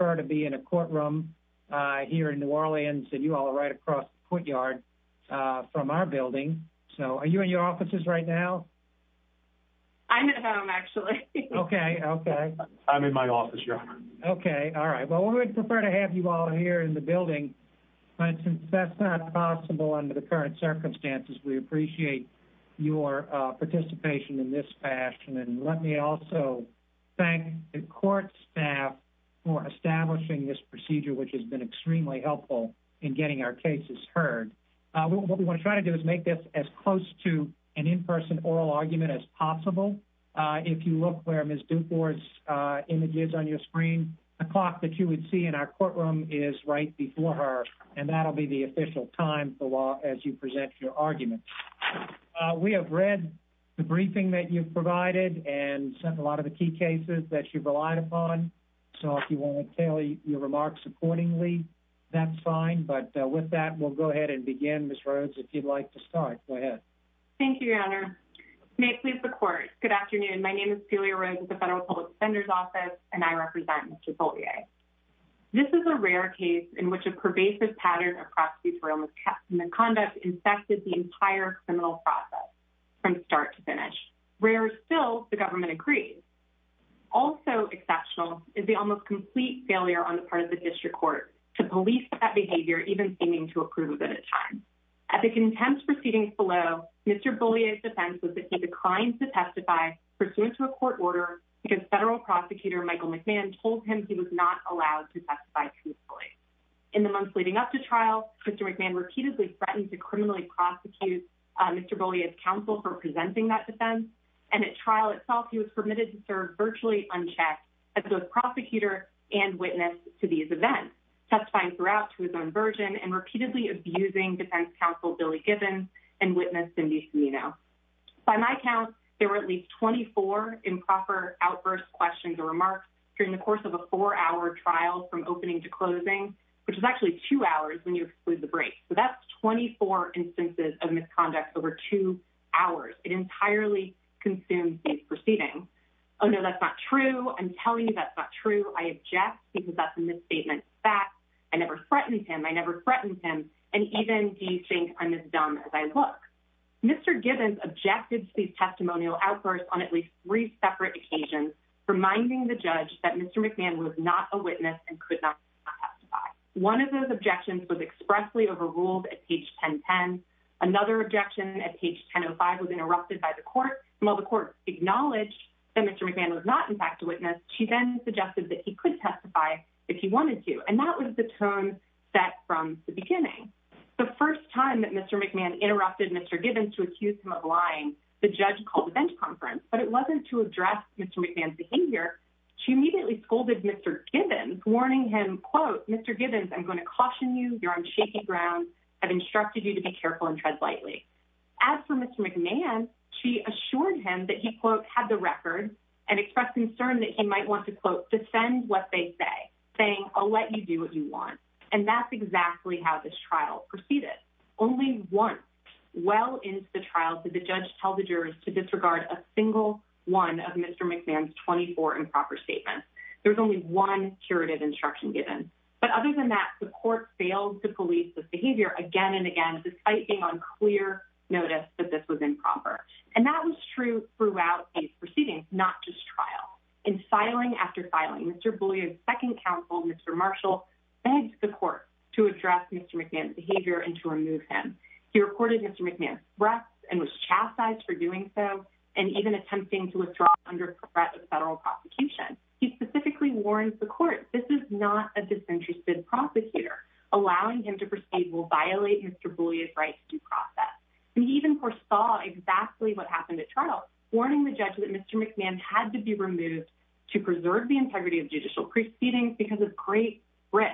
and I would prefer to be in a courtroom here in New Orleans and you all are right across the courtyard from our building so are you in your offices right now? I'm at home actually. Okay. Okay. I'm in my office your honor. Okay. Alright. Well, we would prefer to have you all here in the building but since that's not possible under the current circumstances, we appreciate your participation in this fashion and let me also thank the court staff for establishing this procedure which has been extremely helpful in getting our cases heard. What we want to try to do is make this as close to an in-person oral argument as possible. If you look where Ms. Dufour's image is on your screen, the clock that you would see in our courtroom is right before her and that'll be the official time for law as you present your argument. We have read the briefing that you've provided and sent a lot of the key cases that you've relied upon so if you want to tell your remarks accordingly that's fine but with that we'll go ahead and begin Ms. Rhodes if you'd like to start. Go ahead. Thank you your honor. May it please the court. Good afternoon. My name is Celia Rhodes with the Federal Public Defender's Office and I represent Mr. Beaulieu. This is a rare case in which a pervasive pattern of prosecution was kept and the conduct infected the entire criminal process from start to finish. Rare still, the government agrees. Also exceptional is the almost complete failure on the part of the district court to police that behavior even seeming to approve it at times. At the contempt proceedings below, Mr. Beaulieu's defense was that he declined to testify pursuant to a court order because federal prosecutor Michael McMahon told him he was not allowed to testify truthfully. In the months leading up to trial, Mr. McMahon repeatedly threatened to criminally prosecute Mr. Beaulieu's defense and at trial itself he was permitted to serve virtually unchecked as both prosecutor and witness to these events, testifying throughout to his own version and repeatedly abusing defense counsel Billy Gibbons and witness Cindy Cimino. By my count, there were at least 24 improper outburst questions or remarks during the course of a four-hour trial from opening to closing, which is actually two hours when you exclude the break. So that's 24 instances of misconduct over two hours. It entirely consumes these proceedings. Oh no, that's not true. I'm telling you that's not true. I object because that's a misstatement of fact. I never threatened him. I never threatened him. And even do you think I'm as dumb as I look? Mr. Gibbons objected to these testimonial outbursts on at least three separate occasions, reminding the judge that Mr. McMahon was not a witness and could not testify. One of those objections was expressly overruled at page 1010. Another objection at page 1005 was interrupted by the court. And while the court acknowledged that Mr. McMahon was not in fact a witness, she then suggested that he could testify if he wanted to. And that was the tone set from the beginning. The first time that Mr. McMahon interrupted Mr. Gibbons to accuse him of lying, the judge called a bench conference, but it wasn't to address Mr. McMahon's behavior. She immediately scolded Mr. Gibbons, warning him, quote, Mr. As for Mr. McMahon, she assured him that he, quote, had the record and expressed concern that he might want to, quote, defend what they say, saying, I'll let you do what you want. And that's exactly how this trial proceeded. Only once, well into the trial, did the judge tell the jurors to disregard a single one of Mr. McMahon's 24 improper statements. There was only one curative instruction given. But other than that, the court failed to police this behavior again and again, despite being on clear notice that this was improper. And that was true throughout these proceedings, not just trial. In filing after filing, Mr. Boulier's second counsel, Mr. Marshall, begged the court to address Mr. McMahon's behavior and to remove him. He reported Mr. McMahon's threats and was chastised for doing so, and even attempting to withdraw under threat of federal prosecution. He specifically warned the court, this is not a disinterested prosecutor. Allowing him to proceed will violate Mr. Boulier's right to due process. And he even foresaw exactly what happened at trial, warning the judge that Mr. McMahon had to be removed to preserve the integrity of judicial proceedings because of great risk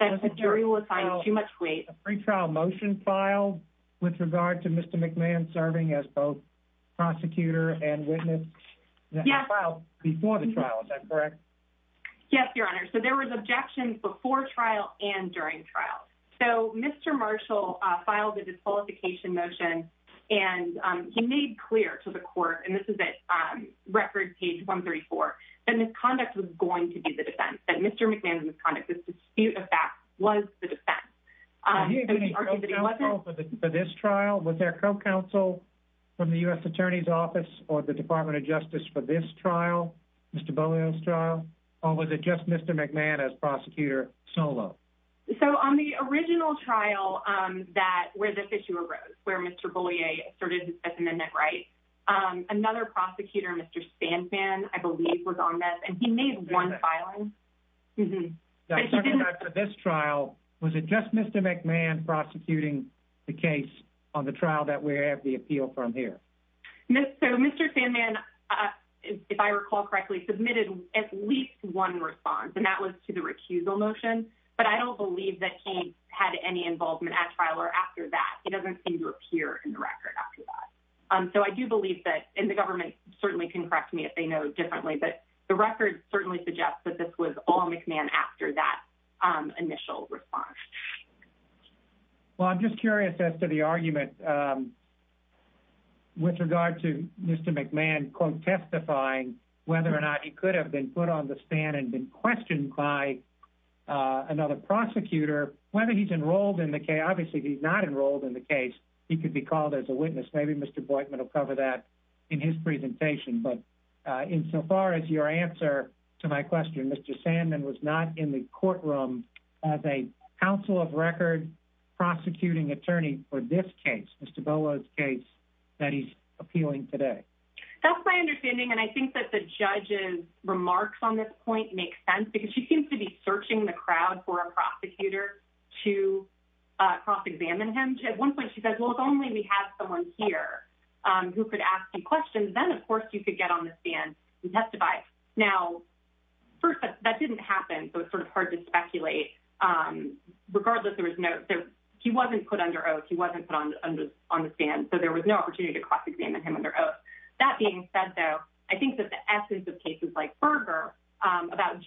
that the jury will assign too much weight. A pre-trial motion filed with regard to Mr. McMahon serving as both prosecutor and witness before the trial, is that correct? Yes, your honor. So there was objections before trial and during trial. So Mr. Marshall filed a disqualification motion and he made clear to the court, and this is at record page 134, that misconduct was going to be the defense, Mr. McMahon's misconduct was the defense. Was there co-counsel from the U.S. attorney's office or the Department of Justice for this trial, Mr. Boulier's trial, or was it just Mr. McMahon as prosecutor solo? So on the original trial where this issue arose, where Mr. Boulier asserted his I believe was on this, and he made one filing. For this trial, was it just Mr. McMahon prosecuting the case on the trial that we have the appeal from here? So Mr. McMahon, if I recall correctly, submitted at least one response and that was to the recusal motion, but I don't believe that he had any involvement at trial or after that. He doesn't seem to appear in the record after that. So I do believe that, and the government certainly can correct me if they know differently, but the record certainly suggests that this was all McMahon after that initial response. Well, I'm just curious as to the argument with regard to Mr. McMahon, quote, testifying whether or not he could have been put on the stand and been questioned by another prosecutor, whether he's enrolled in the case. Obviously, he's not enrolled in the case. He could be called as a witness. Maybe Mr. Boykman will cover that in his presentation, but insofar as your answer to my question, Mr. Sandman was not in the courtroom as a counsel of record prosecuting attorney for this case, Mr. Bolo's case that he's appealing today. That's my understanding, and I think that the judge's remarks on this point make sense because she seems to be searching the crowd for a prosecutor to cross-examine him. At one point, she says, well, if only we had someone here who could ask you questions, then, of course, you could get on the stand and testify. Now, first, that didn't happen, so it's sort of hard to speculate. Regardless, he wasn't put under oath. He wasn't put on the stand, so there was no opportunity to cross-examine him under oath. That being said, though, I think that the essence of cases like Berger about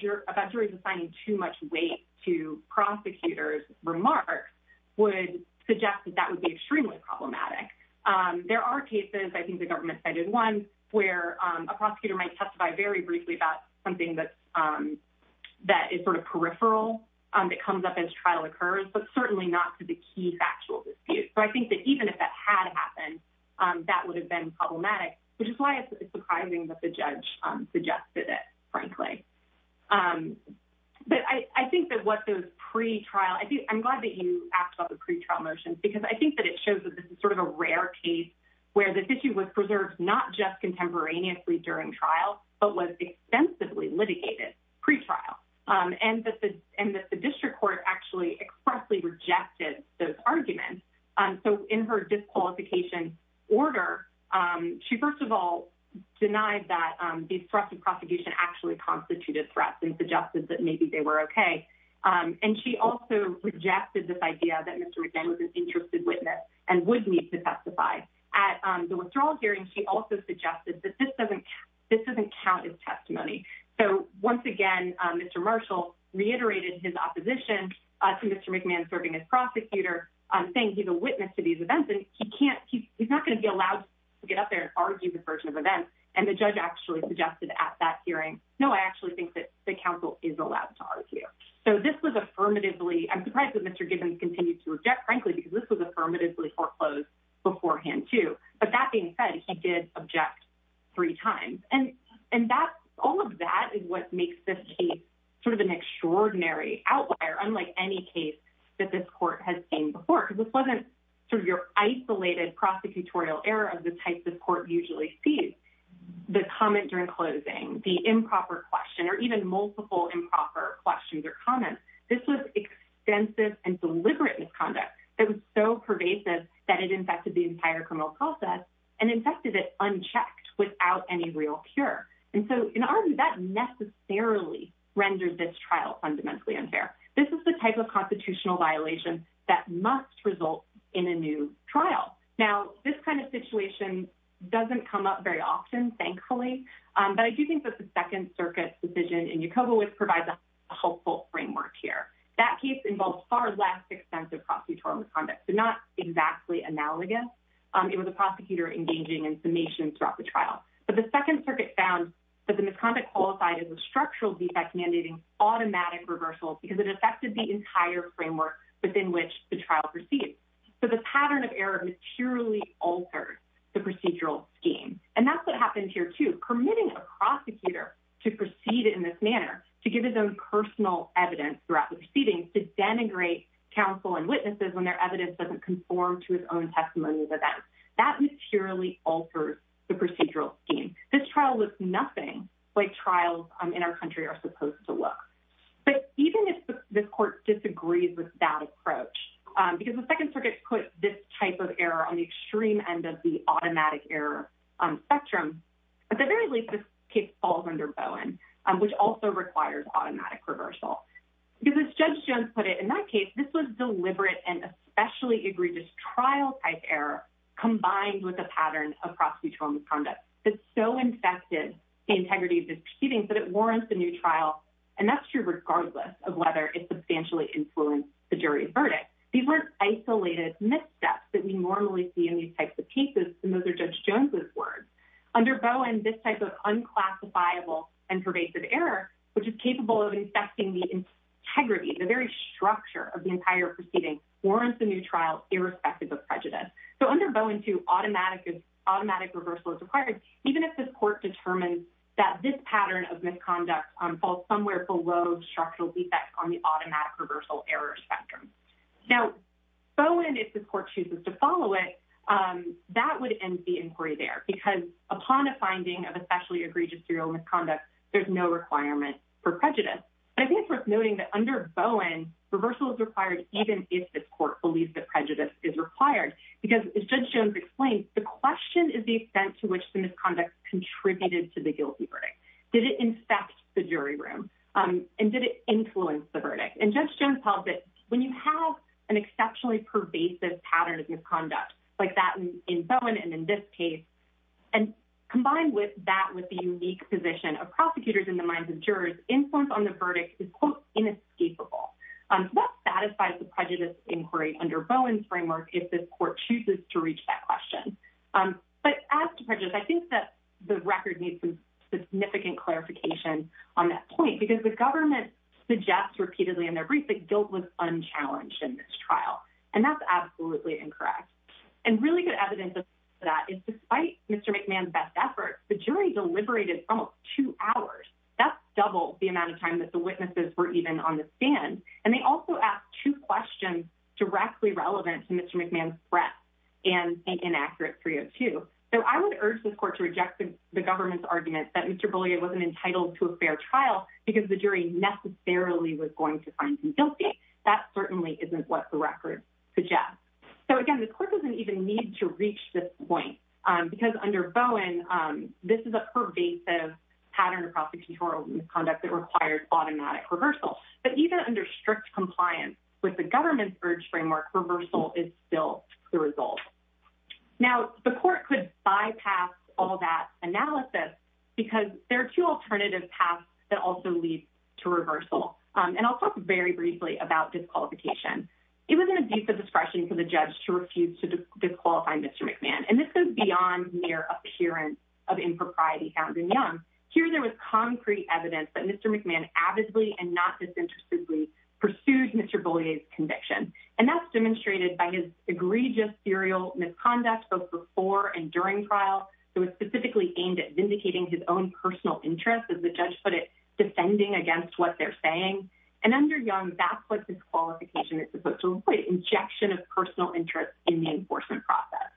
juries assigning too much weight to prosecutors' remarks would suggest that that would be extremely problematic. There are cases, I think the government cited one, where a prosecutor might testify very briefly about something that is sort of peripheral that comes up as trial occurs, but certainly not to the key factual dispute. I think that even if that had happened, that would have been problematic, which is why it's surprising that the judge suggested it, frankly. I'm glad that you asked about the pretrial motion because I think that it shows that this is sort of a rare case where the issue was preserved not just contemporaneously during trial, but was extensively litigated pre-trial. The district court actually expressly rejected those arguments. In her disqualification order, she, first of all, denied that these threats of prosecution actually constituted threats and suggested that maybe they were okay. She also rejected this idea that Mr. McMahon was an interested witness and would need to testify. At the withdrawal hearing, she also suggested that this doesn't count as testimony. Once again, Mr. Marshall reiterated his opposition to Mr. McMahon serving as prosecutor, saying he's a witness to these events and he's not going to be allowed to get up there and argue this version of events. The judge actually suggested at that hearing, no, I actually think that the counsel is allowed to argue. I'm surprised that Mr. Gibbons continued to object, frankly, because this was affirmatively foreclosed beforehand, too. That being said, he did object three times. All of that is what makes this case an extraordinary outlier, unlike any case that this court has seen before. This wasn't your isolated prosecutorial error of the comment during closing, the improper question, or even multiple improper questions or comments. This was extensive and deliberate misconduct that was so pervasive that it infected the entire criminal process and infected it unchecked without any real cure. In our view, that necessarily renders this trial fundamentally unfair. This is the type of constitutional violation that must result in a new trial. Now, this kind of situation doesn't come up very often, thankfully, but I do think that the Second Circuit's decision in Yokobowitz provides a helpful framework here. That case involves far less extensive prosecutorial misconduct, so not exactly analogous. It was a prosecutor engaging in summation throughout the trial, but the Second Circuit found that the misconduct qualified as a structural defect mandating automatic reversal because it affected the entire framework within which the trial proceeded. The pattern of error materially altered the procedural scheme, and that's what happened here too. Permitting a prosecutor to proceed in this manner, to give his own personal evidence throughout the proceedings, to denigrate counsel and witnesses when their evidence doesn't conform to his own testimony of events, that materially alters the procedural scheme. This trial looks nothing like trials in our disagrees with that approach because the Second Circuit put this type of error on the extreme end of the automatic error spectrum. At the very least, this case falls under Bowen, which also requires automatic reversal. Because as Judge Jones put it, in that case, this was deliberate and especially egregious trial-type error combined with a pattern of prosecutorial misconduct that so infected the integrity of this proceeding that it warrants a new trial, and that's true regardless of whether it substantially influenced the jury verdict. These were isolated missteps that we normally see in these types of cases, and those are Judge Jones's words. Under Bowen, this type of unclassifiable and pervasive error, which is capable of infecting the integrity, the very structure of the entire proceeding, warrants a new trial irrespective of prejudice. So under Bowen, too, automatic reversal is required, even if the court determines that this pattern of misconduct falls somewhere below structural defects on the automatic reversal error spectrum. Now, Bowen, if the court chooses to follow it, that would end the inquiry there because upon a finding of especially egregious serial misconduct, there's no requirement for prejudice. But I think it's worth noting that under Bowen, reversal is required even if the court believes that prejudice is required because, as Judge Jones explained, the question is the extent to which the jury room, and did it influence the verdict? And Judge Jones held that when you have an exceptionally pervasive pattern of misconduct, like that in Bowen and in this case, and combined with that with the unique position of prosecutors in the minds of jurors, influence on the verdict is, quote, inescapable. So that satisfies the prejudice inquiry under Bowen's framework if this court chooses to reach that question. But as to prejudice, I think that the record needs some clarification on that point because the government suggests repeatedly in their brief that guilt was unchallenged in this trial, and that's absolutely incorrect. And really good evidence of that is despite Mr. McMahon's best efforts, the jury deliberated almost two hours. That's double the amount of time that the witnesses were even on the stand. And they also asked two questions directly relevant to Mr. McMahon's threat and an inaccurate 302. So I would urge this court to the government's argument that Mr. Beaulieu wasn't entitled to a fair trial because the jury necessarily was going to find him guilty. That certainly isn't what the record suggests. So, again, the court doesn't even need to reach this point because under Bowen, this is a pervasive pattern of prosecutorial misconduct that requires automatic reversal. But even under strict compliance with the government's urge framework, reversal is still the result. Now, the court could bypass all that analysis because there are two alternative paths that also lead to reversal. And I'll talk very briefly about disqualification. It was an abuse of discretion for the judge to refuse to disqualify Mr. McMahon. And this is beyond mere appearance of impropriety found in Young. Here there was concrete evidence that Mr. McMahon avidly and not disinterestedly pursued Mr. Beaulieu's conviction. And that's demonstrated by his egregious serial misconduct both before and during trial. It was specifically aimed at vindicating his own personal interest as the judge put it, defending against what they're saying. And under Young, that's what disqualification is supposed to avoid, injection of personal interest in the enforcement process.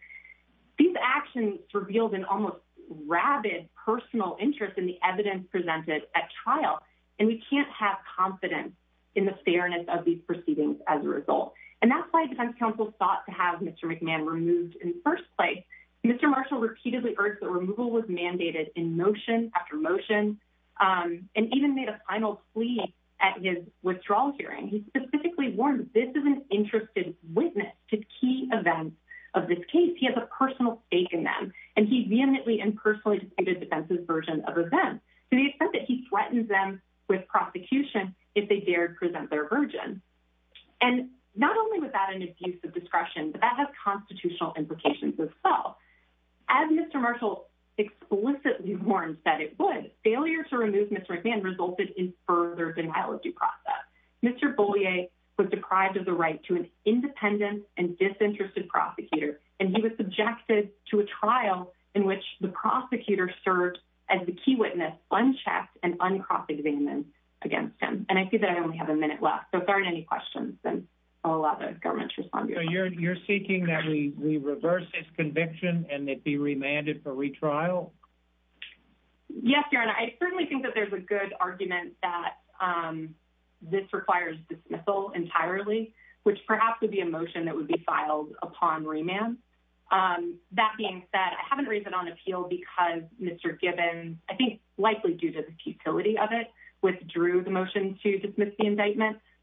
These actions revealed an almost rabid personal interest in the evidence presented at trial. And we can't have confidence in the fairness of these proceedings as a result. And that's why defense counsel thought to have Mr. McMahon removed in the first place. Mr. Marshall repeatedly urged that removal was mandated in motion after motion and even made a final plea at his withdrawal hearing. He specifically warned that this is an interested witness to key events of this case. He has a personal stake in them. And he vehemently and personally disputed defense's version of events to the extent that he threatens them with prosecution if they dared present their version. And not only was that an abuse of discretion, but that has constitutional implications as well. As Mr. Marshall explicitly warned that it would, failure to remove Mr. McMahon resulted in further denial of due process. Mr. Beaulieu was deprived of the right to an independent and disinterested prosecutor, and he was subjected to a trial in which the prosecutor served as the key witness, unchecked and uncross-examined against him. And I see that I only have a minute left. If there aren't any questions, then I'll allow the government to respond. So you're seeking that we reverse this conviction and it be remanded for retrial? Yes, your honor. I certainly think that there's a good argument that this requires dismissal entirely, which perhaps would be a motion that would be filed upon remand. That being said, I haven't raised it on appeal because Mr. Gibbons, I think likely due to the futility of it, but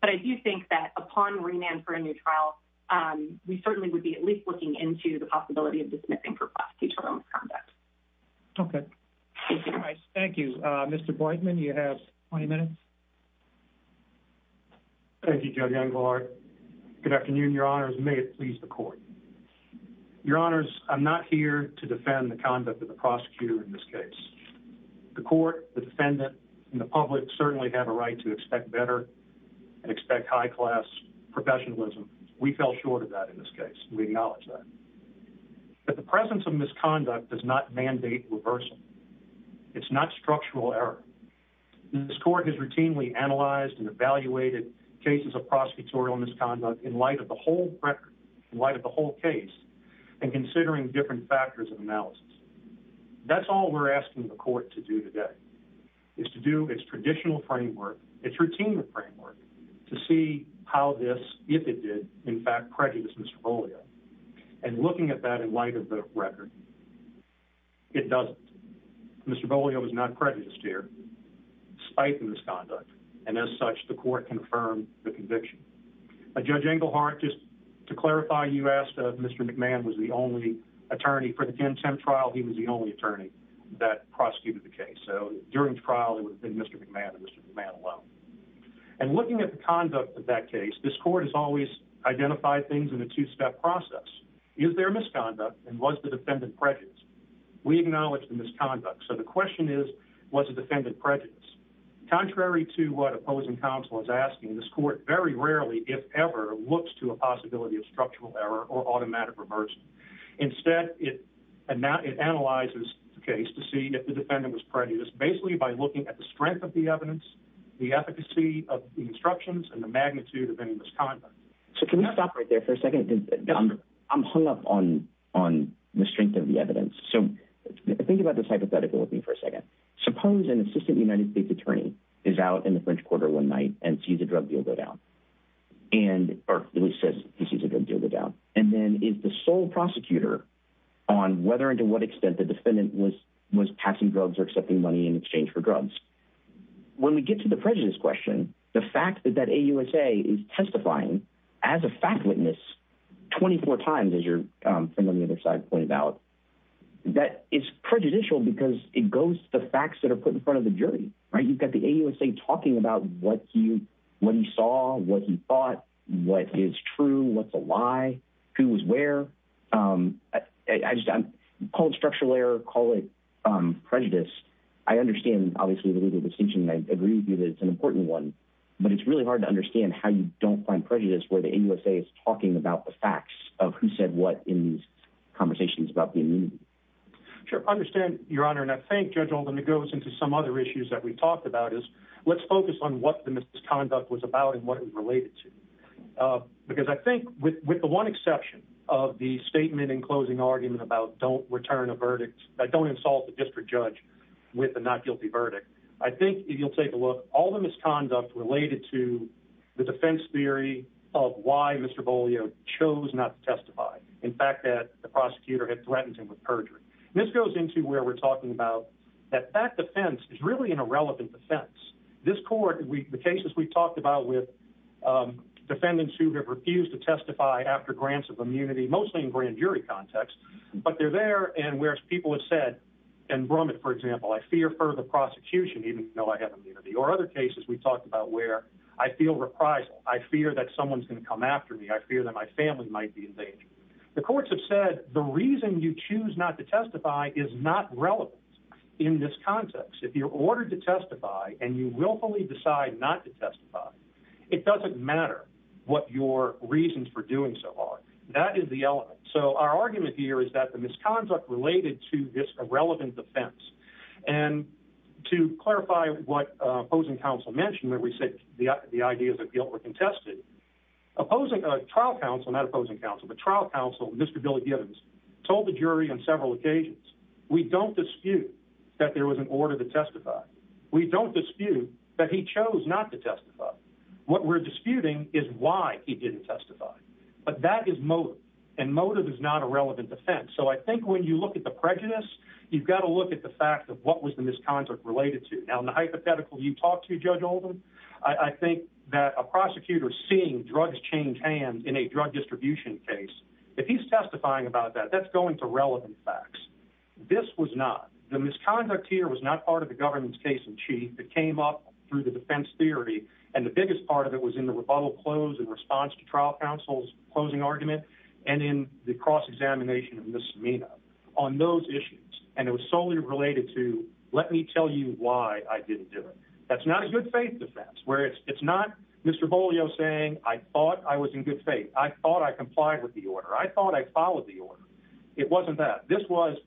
I do think that upon remand for a new trial, we certainly would be at least looking into the possibility of dismissing for prosecutorial misconduct. Okay. Thank you. Mr. Boydman, you have 20 minutes. Thank you, Judge Engelhardt. Good afternoon, your honors. May it please the court. Your honors, I'm not here to defend the conduct of the prosecutor in this case. The court, the defendant, and the public certainly have a right to expect better. Expect high-class professionalism. We fell short of that in this case. We acknowledge that. But the presence of misconduct does not mandate reversal. It's not structural error. This court has routinely analyzed and evaluated cases of prosecutorial misconduct in light of the whole record, in light of the whole case, and considering different factors of analysis. That's all we're asking the court to do today, is to do its traditional framework, its routine framework, to see how this, if it did, in fact prejudice Mr. Bolio. And looking at that in light of the record, it doesn't. Mr. Bolio was not prejudiced here, despite the misconduct. And as such, the court confirmed the conviction. Judge Engelhardt, just to clarify, you asked if Mr. McMahon was the only attorney for the 10-10 trial. He was the only attorney that prosecuted the case. So during the trial, it would have been Mr. McMahon and Mr. McMahon alone. And looking at the conduct of that case, this court has always identified things in a two-step process. Is there misconduct? And was the defendant prejudiced? We acknowledge the misconduct. So the question is, was the defendant prejudiced? Contrary to what opposing counsel is asking, this court very rarely, if ever, looks to a possibility of structural error or automatic reversal. Instead, it analyzes the defendant was prejudiced, basically by looking at the strength of the evidence, the efficacy of the instructions, and the magnitude of any misconduct. So can we stop right there for a second? I'm hung up on the strength of the evidence. So think about this hypothetical with me for a second. Suppose an assistant United States attorney is out in the French Quarter one night and sees a drug deal go down. Or at least says he sees a drug deal go down. And then is the sole prosecutor on whether and to what extent the defendant was passing drugs or accepting money in exchange for drugs. When we get to the prejudice question, the fact that that AUSA is testifying as a fact witness 24 times, as your friend on the other side pointed out, that is prejudicial because it goes to the facts that are put in front of the jury. You've got the AUSA talking about what he saw, what he thought, what is true, what's a lie, who was where. Call it structural error, call it prejudice. I understand, obviously, the legal distinction, and I agree with you that it's an important one. But it's really hard to understand how you don't find prejudice where the AUSA is talking about the facts of who said what in these conversations about the immunity. Sure. I understand, Your Honor. And I think, Judge Oldham, it goes into some other issues that we talked about is let's focus on what the misconduct was about and what it was related to. Because I think with the one exception of the statement in closing argument about don't return a verdict, don't insult the district judge with a not guilty verdict, I think if you'll take a look, all the misconduct related to the defense theory of why Mr. Beaulieu chose not to testify. In fact, that the prosecutor had threatened him with perjury. And this goes into where we're talking about that that defense is really an irrelevant defense. This court, the cases we talked about with defendants who have refused to testify after grants of immunity, mostly in grand jury context, but they're there. And whereas people have said, in Brumman, for example, I fear further prosecution, even though I have immunity. Or other cases we talked about where I feel reprisal. I fear that someone's going to come after me. I fear that my family might be in danger. The courts have said, the reason you choose not to testify is not relevant in this context. If you're ordered to testify and you willfully decide not to testify, it doesn't matter what your reasons for doing so are. That is the element. So our argument here is that the misconduct related to this irrelevant defense. And to clarify what opposing counsel mentioned when we said the ideas of guilt were contested, opposing trial counsel, not opposing counsel, but trial counsel, Mr. Billy Gibbons, told the jury on several occasions, we don't dispute that there was an order to testify. We don't dispute that he chose not to testify. What we're disputing is why he didn't testify. But that is motive. And motive is not a relevant defense. So I think when you look at the prejudice, you've got to look at the fact of what was the misconduct related to. Now, in the hypothetical you talked to, Judge Oldham, I think that a prosecutor seeing drugs change hands in a drug distribution case, if he's testifying about that, that's going to relevant facts. This was not. The misconduct here was not part of the government's case in chief. It came up through the defense theory. And the biggest part of it was in the rebuttal close and response to trial counsel's closing argument and in the cross-examination of Ms. Samina on those issues. And it was solely related to, let me tell you why I didn't do it. That's not a good faith defense, where it's not Mr. Bolio saying, I thought I was in good faith. I thought I complied with the order. I thought I followed the order. It wasn't that. This was,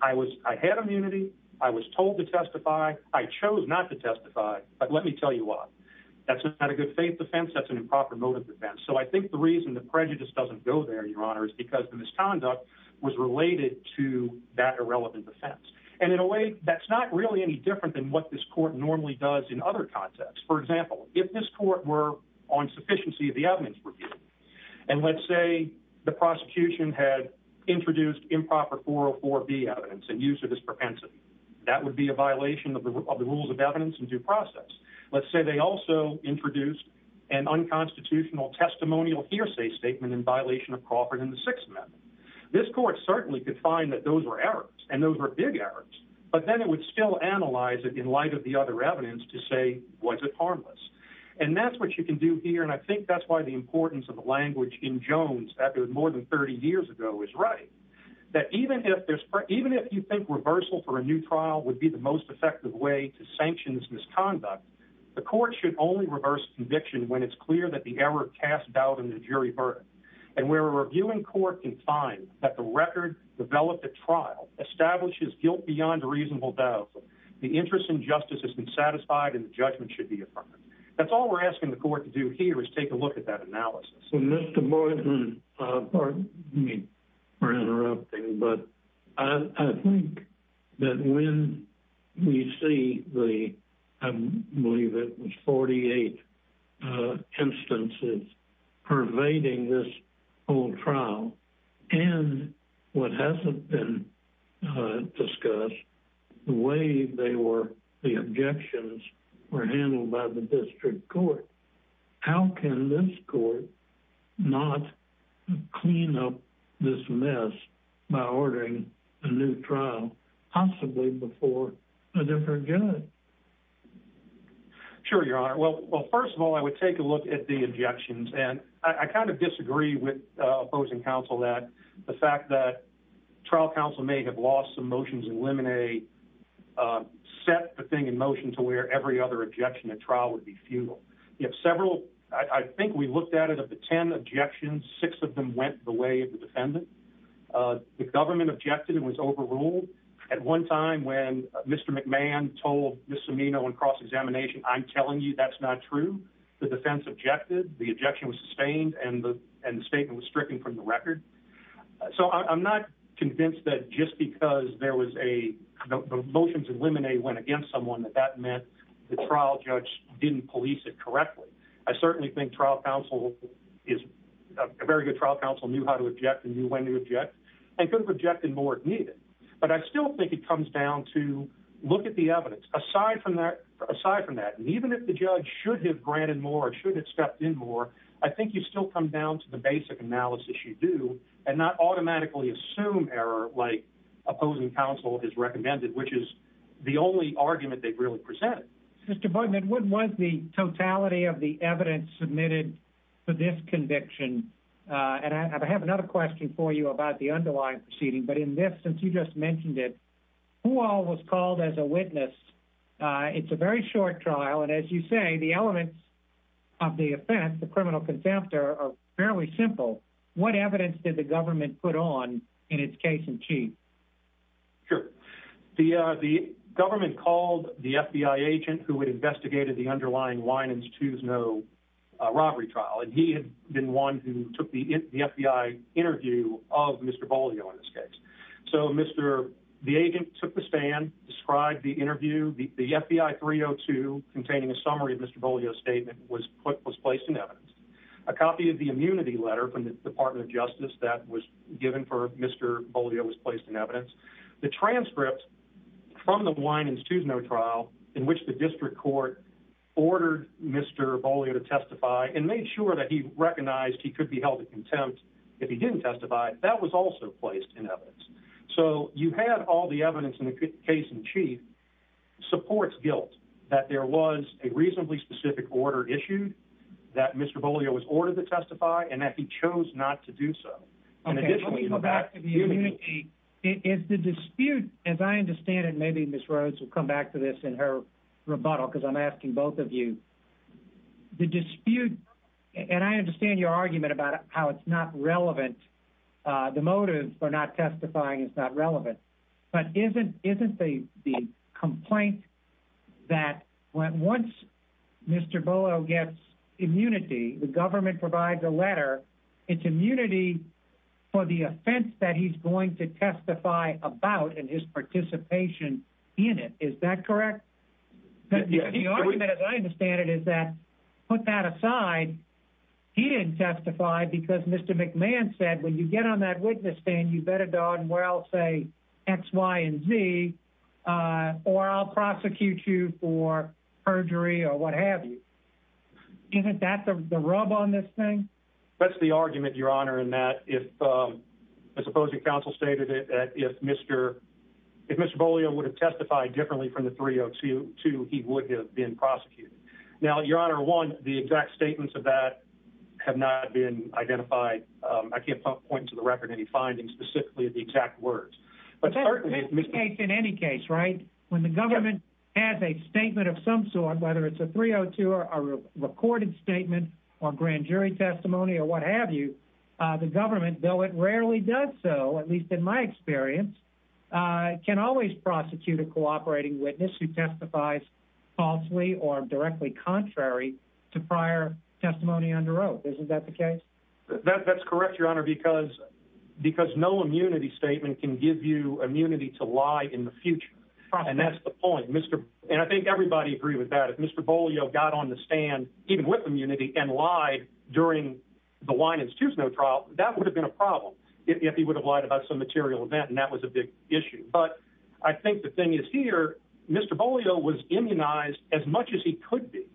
I had immunity. I was told to testify. I chose not to testify. But let me tell you why. That's not a good faith defense. That's an improper motive defense. So I think the reason the prejudice doesn't go there, Your Honor, is because the misconduct was related to that irrelevant defense. And in a way, that's not any different than what this court normally does in other contexts. For example, if this court were on sufficiency of the evidence review, and let's say the prosecution had introduced improper 404B evidence and used it as propensity, that would be a violation of the rules of evidence in due process. Let's say they also introduced an unconstitutional testimonial hearsay statement in violation of Crawford and the Sixth Amendment. This court certainly could find that those were big errors, but then it would still analyze it in light of the other evidence to say, was it harmless? And that's what you can do here. And I think that's why the importance of the language in Jones, that was more than 30 years ago, is right. That even if there's, even if you think reversal for a new trial would be the most effective way to sanctions misconduct, the court should only reverse conviction when it's clear that the error cast doubt in the jury verdict. And where a reviewing court can find that the record developed at trial establishes guilt beyond a reasonable doubt, the interest in justice has been satisfied and the judgment should be affirmed. That's all we're asking the court to do here is take a look at that analysis. Mr. Boyden, pardon me for interrupting, but I think that when we see the, I believe it was 48 instances pervading this whole trial and what hasn't been discussed, the way they were, the objections were handled by the district court. How can this court not clean up this mess by ordering a new trial possibly before a different judge? Sure, your honor. Well, well, first of all, I would take a look at the objections and I kind of disagree with opposing counsel that the fact that trial counsel may have lost some motions eliminate, set the thing in motion to where every other objection at trial would be futile. You have several, I think we looked at it at the 10 objections, six of them went the way of the defendant. The government objected and was overruled at one time when Mr. McMahon told Ms. Cimino in cross-examination, I'm telling you that's not true. The defense objected, the objection was sustained and the statement was stricken from the record. So I'm not convinced that just because there was a motions eliminate went against someone that that meant the trial judge didn't police it correctly. I certainly think trial counsel is a very good trial counsel, knew how to object and knew when to object and could have objected more if needed. But I still think it comes down to look at the evidence. Aside from that, and even if the judge should have granted more or should have stepped in more, I think you still come down to the basic analysis that you do and not automatically assume error like opposing counsel has recommended, which is the only argument they've really presented. Mr. Bognett, what was the totality of the evidence submitted for this conviction? And I have another question for you about the underlying proceeding, but in this, since you just mentioned it, who all was called as a witness? It's a very short trial. And as you say, the elements of the offense, the criminal contempt are fairly simple. What evidence did the government put on in its case in chief? Sure. The, uh, the government called the FBI agent who had investigated the underlying Winans-Tuzno robbery trial. And he had been one who took the FBI interview of Mr. Bolio in this summary of Mr. Bolio's statement was put, was placed in evidence. A copy of the immunity letter from the department of justice that was given for Mr. Bolio was placed in evidence. The transcript from the Winans-Tuzno trial in which the district court ordered Mr. Bolio to testify and made sure that he recognized he could be held at contempt if he didn't testify, that was also placed in supports guilt that there was a reasonably specific order issued that Mr. Bolio was ordered to testify and that he chose not to do so. And additionally, if the dispute, as I understand it, maybe Ms. Rhodes will come back to this in her rebuttal, because I'm asking both of you the dispute. And I understand your argument about how it's not relevant. The motives for not testifying is not relevant, but isn't, isn't the, the complaint that once Mr. Bolio gets immunity, the government provides a letter, it's immunity for the offense that he's going to testify about and his participation in it. Is that correct? The argument as I understand it is that, put that aside, he didn't testify because Mr. McMahon said, when you get on that witness stand, you better darn well say X, Y, and Z, or I'll prosecute you for perjury or what have you. Isn't that the rub on this thing? That's the argument, your honor, in that if, as opposing counsel stated, if Mr. Bolio would have testified differently from the 302, he would have been prosecuted. Now, your honor, one, the exact statements of that have not been identified. I can't point to the record, any findings, specifically the exact words. But certainly, in any case, right, when the government has a statement of some sort, whether it's a 302, or a recorded statement, or grand jury testimony, or what have you, the government, though it rarely does so, at least in my experience, can always prosecute a cooperating witness who testifies falsely or directly contrary to prior testimony under oath. Isn't that the case? That's correct, your honor, because no immunity statement can give you immunity to lie in the future. And that's the point. And I think everybody would agree with that. If Mr. Bolio got on the stand, even with immunity, and lied during the Wine Institute's no trial, that would have been a problem, if he would have lied about some material event, and that was a big issue. But I think the thing is here, Mr. Bolio was immunized as much as he could be.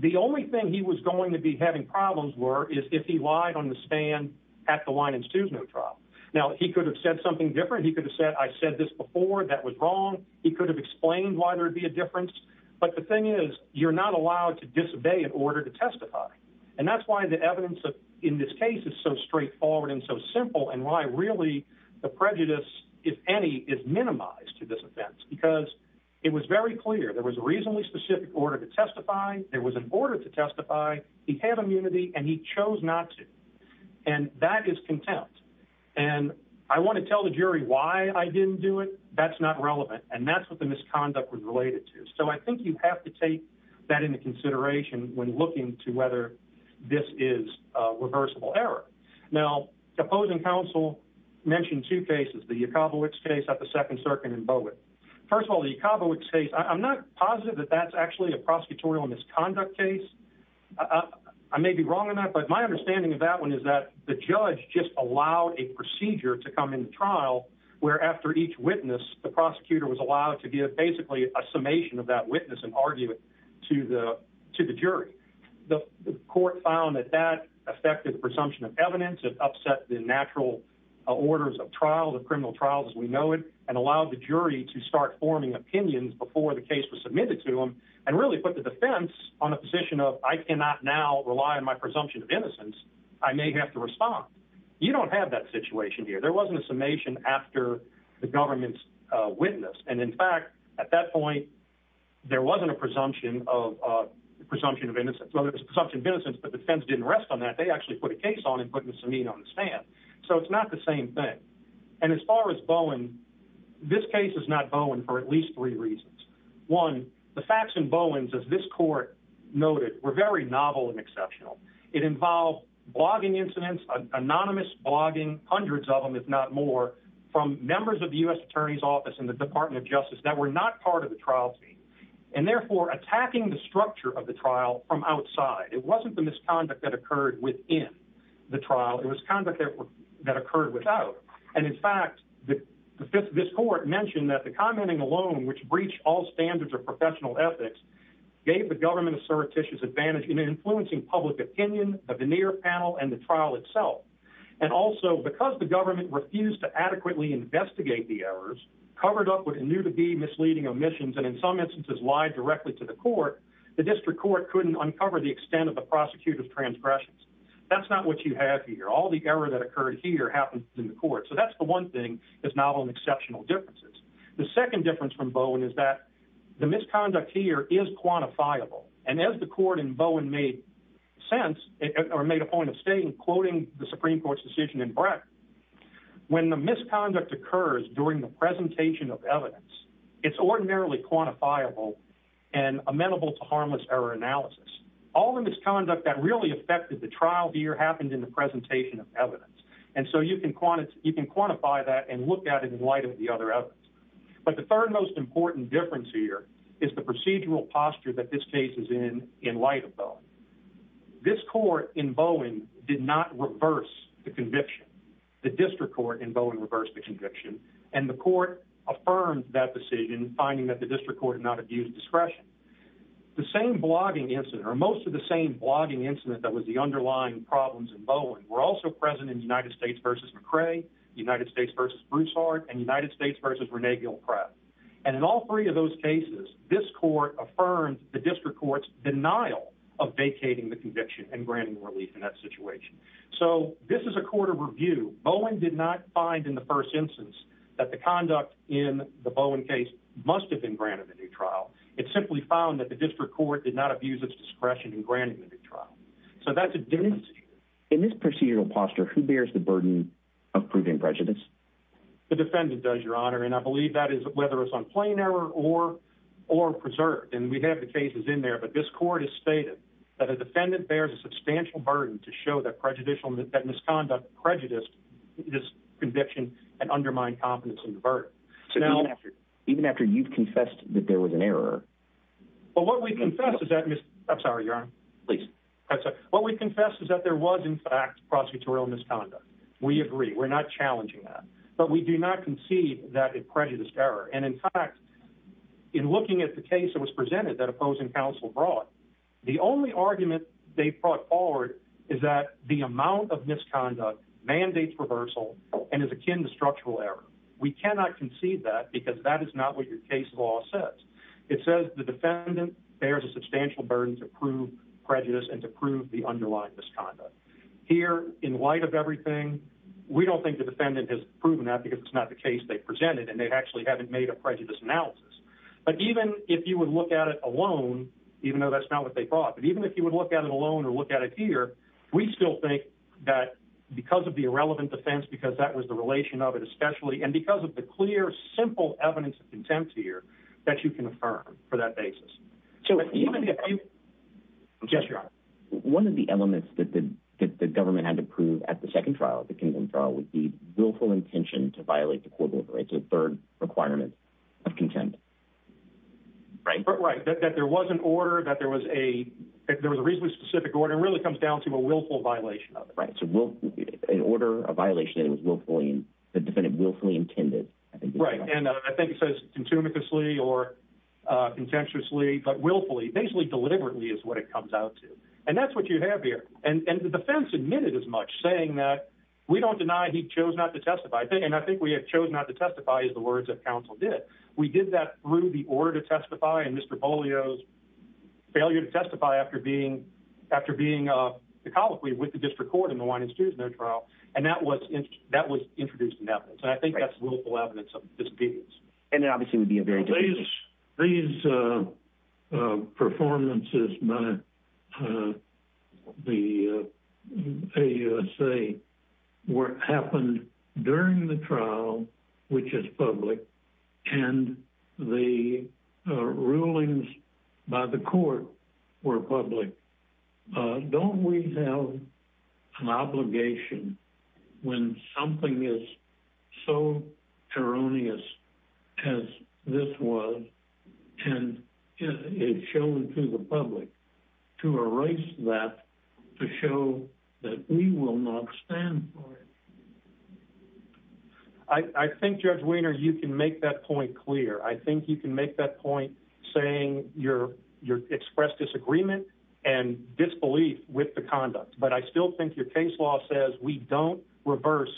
The only thing he was going to be having problems were, is if he lied on the stand at the Wine Institute's no trial. Now, he could have said something different. He could have said, I said this before, that was wrong. He could have explained why there'd be a difference. But the thing is, you're not allowed to disobey in order to testify. And that's why the evidence in this case is so straightforward and so simple, and why really the prejudice, if any, is minimized to this offense. Because it was very clear, there was a reasonably specific order to testify. There was an order to testify. He had immunity, and he chose not to. And that is contempt. And I want to tell the jury why I didn't do it. That's not relevant. And that's what the misconduct was related to. So I think you have to take that into consideration when looking to this is a reversible error. Now, the opposing counsel mentioned two cases, the Yakobowitz case at the Second Circuit in Bowick. First of all, the Yakobowitz case, I'm not positive that that's actually a prosecutorial misconduct case. I may be wrong on that, but my understanding of that one is that the judge just allowed a procedure to come into trial, where after each witness, the prosecutor was allowed to give basically a summation of that witness and argue it to the jury. The court found that that affected the presumption of evidence, it upset the natural orders of trial, the criminal trials as we know it, and allowed the jury to start forming opinions before the case was submitted to them, and really put the defense on a position of, I cannot now rely on my presumption of innocence. I may have to respond. You don't have that situation here. There wasn't a summation after the government's witness. And in fact, at that point, there wasn't a presumption of innocence. Well, there was a presumption of innocence, but the defense didn't rest on that. They actually put a case on and put Miss Amin on the stand. So it's not the same thing. And as far as Bowen, this case is not Bowen for at least three reasons. One, the facts in Bowen's, as this court noted, were very novel and exceptional. It involved blogging incidents, anonymous blogging, hundreds of them, if not more, from members of the U.S. Attorney's Office and the Department of Justice that were not part of the trial team, and therefore attacking the structure of the trial from outside. It wasn't the misconduct that occurred within the trial. It was conduct that occurred without. And in fact, this court mentioned that the commenting alone, which breached all standards of professional ethics, gave the government assertitious advantage in influencing public opinion, the veneer panel, and the trial itself. And also, because the new-to-be misleading omissions, and in some instances, lied directly to the court, the district court couldn't uncover the extent of the prosecutor's transgressions. That's not what you have here. All the error that occurred here happened in the court. So that's the one thing that's novel and exceptional differences. The second difference from Bowen is that the misconduct here is quantifiable. And as the court in Bowen made sense, or made a point of stating, quoting the Supreme Court's decision in Breck, when the misconduct occurs during the presentation of evidence, it's ordinarily quantifiable and amenable to harmless error analysis. All the misconduct that really affected the trial here happened in the presentation of evidence. And so you can quantify that and look at it in light of the other evidence. But the third most important difference here is the procedural posture that this case is in, in light of Bowen. This court in Bowen did not reverse the conviction. The district court in affirmed that decision, finding that the district court had not abused discretion. The same blogging incident, or most of the same blogging incident that was the underlying problems in Bowen, were also present in United States v. McCray, United States v. Broussard, and United States v. Rene Gilkrab. And in all three of those cases, this court affirmed the district court's denial of vacating the conviction and granting relief in that situation. So this is Bowen did not find in the first instance that the conduct in the Bowen case must have been granted a new trial. It simply found that the district court did not abuse its discretion in granting the new trial. So that's a difference here. In this procedural posture, who bears the burden of proving prejudice? The defendant does, Your Honor. And I believe that is whether it's on plain error or preserved. And we have the cases in there, but this court has stated that a defendant bears a substantial burden to show that misconduct prejudiced this conviction and undermined confidence in the verdict. So even after you've confessed that there was an error? Well, what we confess is that there was in fact prosecutorial misconduct. We agree, we're not challenging that. But we do not concede that it prejudiced error. And in fact, in looking at the case that was presented that opposing counsel brought, the only argument they brought forward is that the amount of misconduct mandates reversal and is akin to structural error. We cannot concede that because that is not what your case law says. It says the defendant bears a substantial burden to prove prejudice and to prove the underlying misconduct. Here in light of everything, we don't think the defendant has proven that because it's not the case they presented and they actually haven't made a prejudice analysis. But even if you would look at it alone, even though that's not what they brought, but even if you would look at it alone or look at it here, we still think that because of the irrelevant defense, because that was the relation of it, especially, and because of the clear, simple evidence of contempt here that you can affirm for that basis. One of the elements that the government had to prove at the second trial, the convent trial, would be willful intention to violate the court order. It's a third requirement of contempt. Right. That there was an order, that there was a reasonably specific order, it really comes down to a willful violation of it. Right. An order, a violation that was willfully, the defendant willfully intended. Right. And I think it says contemptuously or contemptuously, but willfully, basically deliberately is what it comes out to. And that's what you have here. And the defense admitted as saying that, we don't deny he chose not to testify. And I think we have chose not to testify is the words that counsel did. We did that through the order to testify and Mr. Polio's failure to testify after being, after being the colloquy with the district court in the Winan-Stewart no trial. And that was, that was introduced in evidence. And I think that's willful evidence of disobedience. And it obviously would be a very different case. These performances by the AUSA happened during the trial, which is public. And the rulings by the court were public. Don't we have an obligation when something is so erroneous as this was, and it's shown to the public to erase that, to show that we will not stand for it. I think Judge Wiener, you can make that point clear. I think you can make that point saying you're, you're expressed disagreement and disbelief with the conduct. But I still think your case law says we don't reverse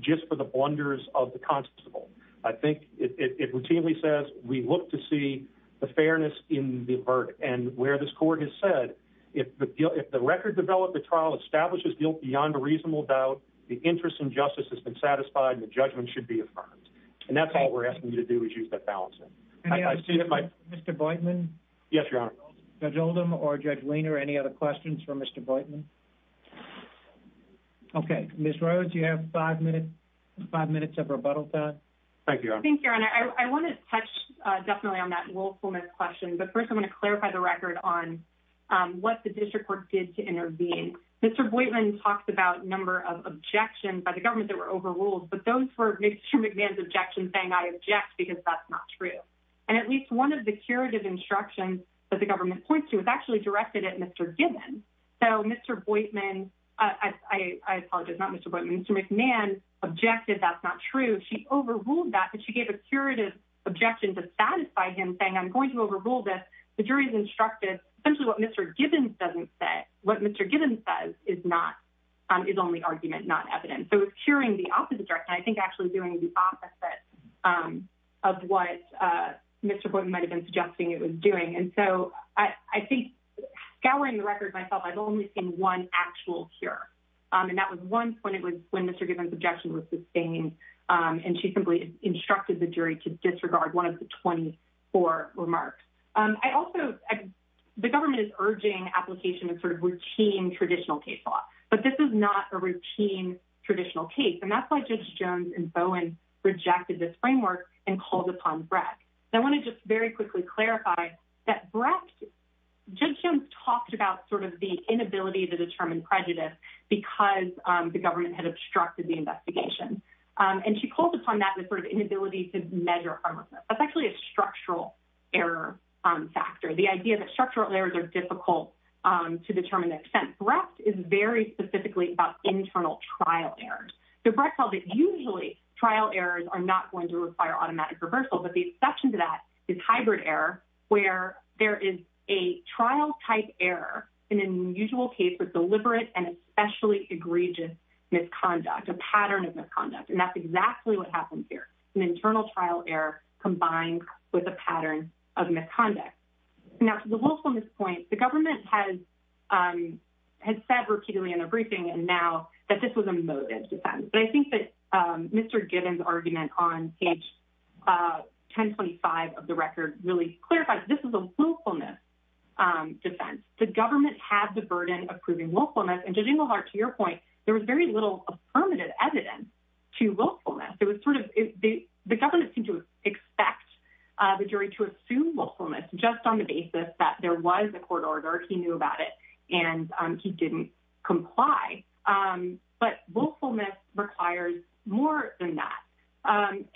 just for the blunders of the constable. I think it routinely says we look to see the fairness in the verdict and where this court has said, if the record developed, the trial establishes guilt beyond a reasonable doubt, the interest in justice has been satisfied and the judgment should be affirmed. And that's all we're asking you to do is use that balance. And I see that my Mr. Boydman. Yes, your honor. Judge Oldham or Judge Wiener, any other questions for Mr. Boydman? Okay. Ms. Rhodes, you have five minutes of rebuttal time. Thank you, your honor. I want to touch definitely on that willfulness question, but first I want to clarify the record on what the district court did to intervene. Mr. Boydman talked about a number of objections by the government that were overruled, but those were Mr. McMahon's objections saying I object because that's not true. And at least one of the curative instructions that the government points to is actually directed at Mr. Gibbons. So Mr. Boydman, I apologize, not Mr. Boydman, Mr. McMahon objected that's not true. She overruled that, but she gave a curative objection to satisfy him saying I'm going to overrule this. The jury's instructed essentially what Mr. Gibbons doesn't say, what Mr. Gibbons says is not, is only argument, not evidence. So it's curing the opposite direction. I think actually doing the opposite of what Mr. Boydman might have been suggesting it was doing. And so I think scouring the record myself, I've only seen one actual cure. And that was one point it was when Mr. Gibbons objection was sustained and she simply instructed the jury to disregard one of the 24 remarks. I also, the government is urging application of sort of routine traditional case law, but this is not a routine traditional case. And that's why Judge Jones and Bowen rejected this framework and called upon Brecht. And I want to just very quickly clarify that Brecht, Judge Jones talked about sort of the inability to determine prejudice because the government had obstructed the investigation. And she called upon that with sort of inability to measure harmlessness. That's actually a structural error factor. The idea that structural errors are to determine the extent. Brecht is very specifically about internal trial errors. So Brecht held that usually trial errors are not going to require automatic reversal, but the exception to that is hybrid error, where there is a trial type error in an unusual case with deliberate and especially egregious misconduct, a pattern of misconduct. And that's exactly what happened here. An internal trial error combined with a pattern of misconduct. Now to the willfulness point, the government has said repeatedly in a briefing and now that this was a motive defense. But I think that Mr. Gibbons' argument on page 1025 of the record really clarifies, this is a willfulness defense. The government has the burden of proving willfulness. And Judge Inglehart, to your point, there was very little affirmative evidence to the jury to assume willfulness just on the basis that there was a court order, he knew about it, and he didn't comply. But willfulness requires more than that.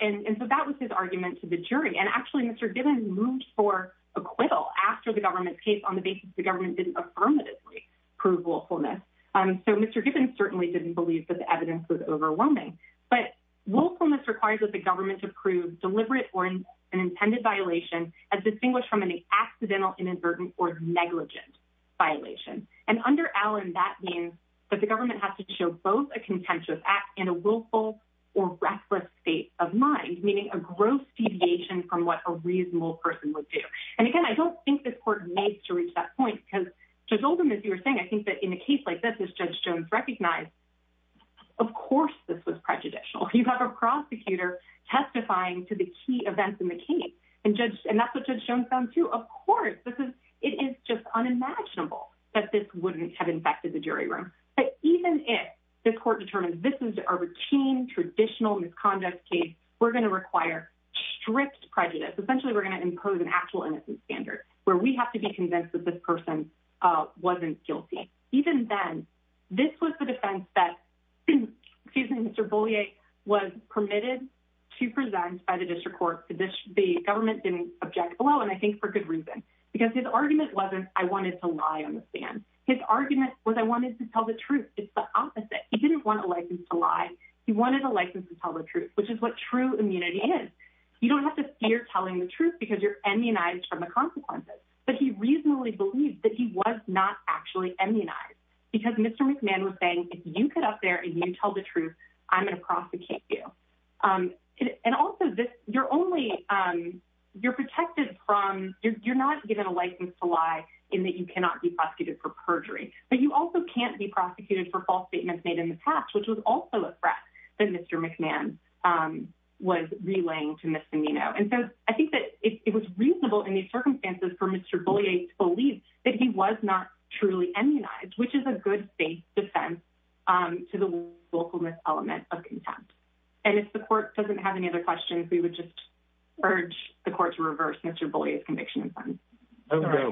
And so that was his argument to the jury. And actually Mr. Gibbons moved for acquittal after the government's case on the basis the government didn't affirmatively prove willfulness. So Mr. Gibbons certainly didn't believe that the evidence was overwhelming. But willfulness requires that the government approve deliberate or an intended violation as distinguished from an accidental inadvertent or negligent violation. And under Allen, that means that the government has to show both a contentious act and a willful or reckless state of mind, meaning a gross deviation from what a reasonable person would do. And again, I don't think this court needs to reach that point because Judge Oldham, as you were saying, I think that in a case like this, as Judge Jones recognized, of course this was prejudicial. You have a prosecutor testifying to the key events in the case. And that's what Judge Jones found too. Of course, it is just unimaginable that this wouldn't have infected the jury room. But even if the court determined this is a routine, traditional misconduct case, we're going to require stripped prejudice. Essentially, we're going to impose an actual innocence standard where we have to be convinced that this person wasn't guilty. Even then, this was the defense that Mr. Beaulieu was permitted to present by the district court. The government didn't object below, and I think for good reason. Because his argument wasn't, I wanted to lie on the stand. His argument was, I wanted to tell the truth. It's the opposite. He didn't want a license to lie. He wanted a license to tell the truth, which is what true immunity is. You don't have to fear telling the truth because you're immunized from the consequences. But he reasonably believed that he was not actually immunized. Because Mr. McMahon was saying, if you get up there and you tell the truth, I'm going to prosecute you. You're not given a license to lie in that you cannot be prosecuted for perjury. But you also can't be prosecuted for false statements made in the past, which was also a threat that Mr. McMahon was relaying to Ms. DeNino. I think it was reasonable in these circumstances for Mr. Beaulieu to believe that he was not truly immunized, which is a good faith defense to the willfulness element of contempt. If the court doesn't have any other questions, we would just urge the court to reverse Mr. Beaulieu's conviction in front. I've got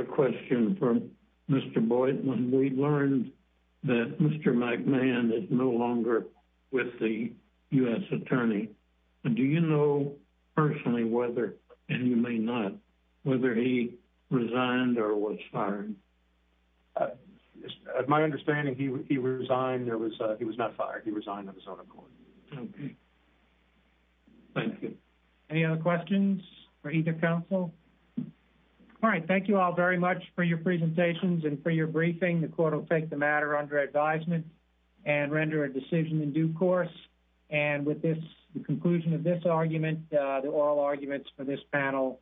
a question for Mr. Boyd. When we learned that Mr. McMahon is no longer with the U.S. Attorney, do you know personally whether, and you may not, whether he resigned or was fired? My understanding, he resigned. He was not fired. He resigned of his own accord. Okay. Thank you. Any other questions for either counsel? All right. Thank you all very much for your presentations and for your briefing. The court will take the matter under advisement and render a decision in due course. And with this, the conclusion of this argument, the oral arguments for this panel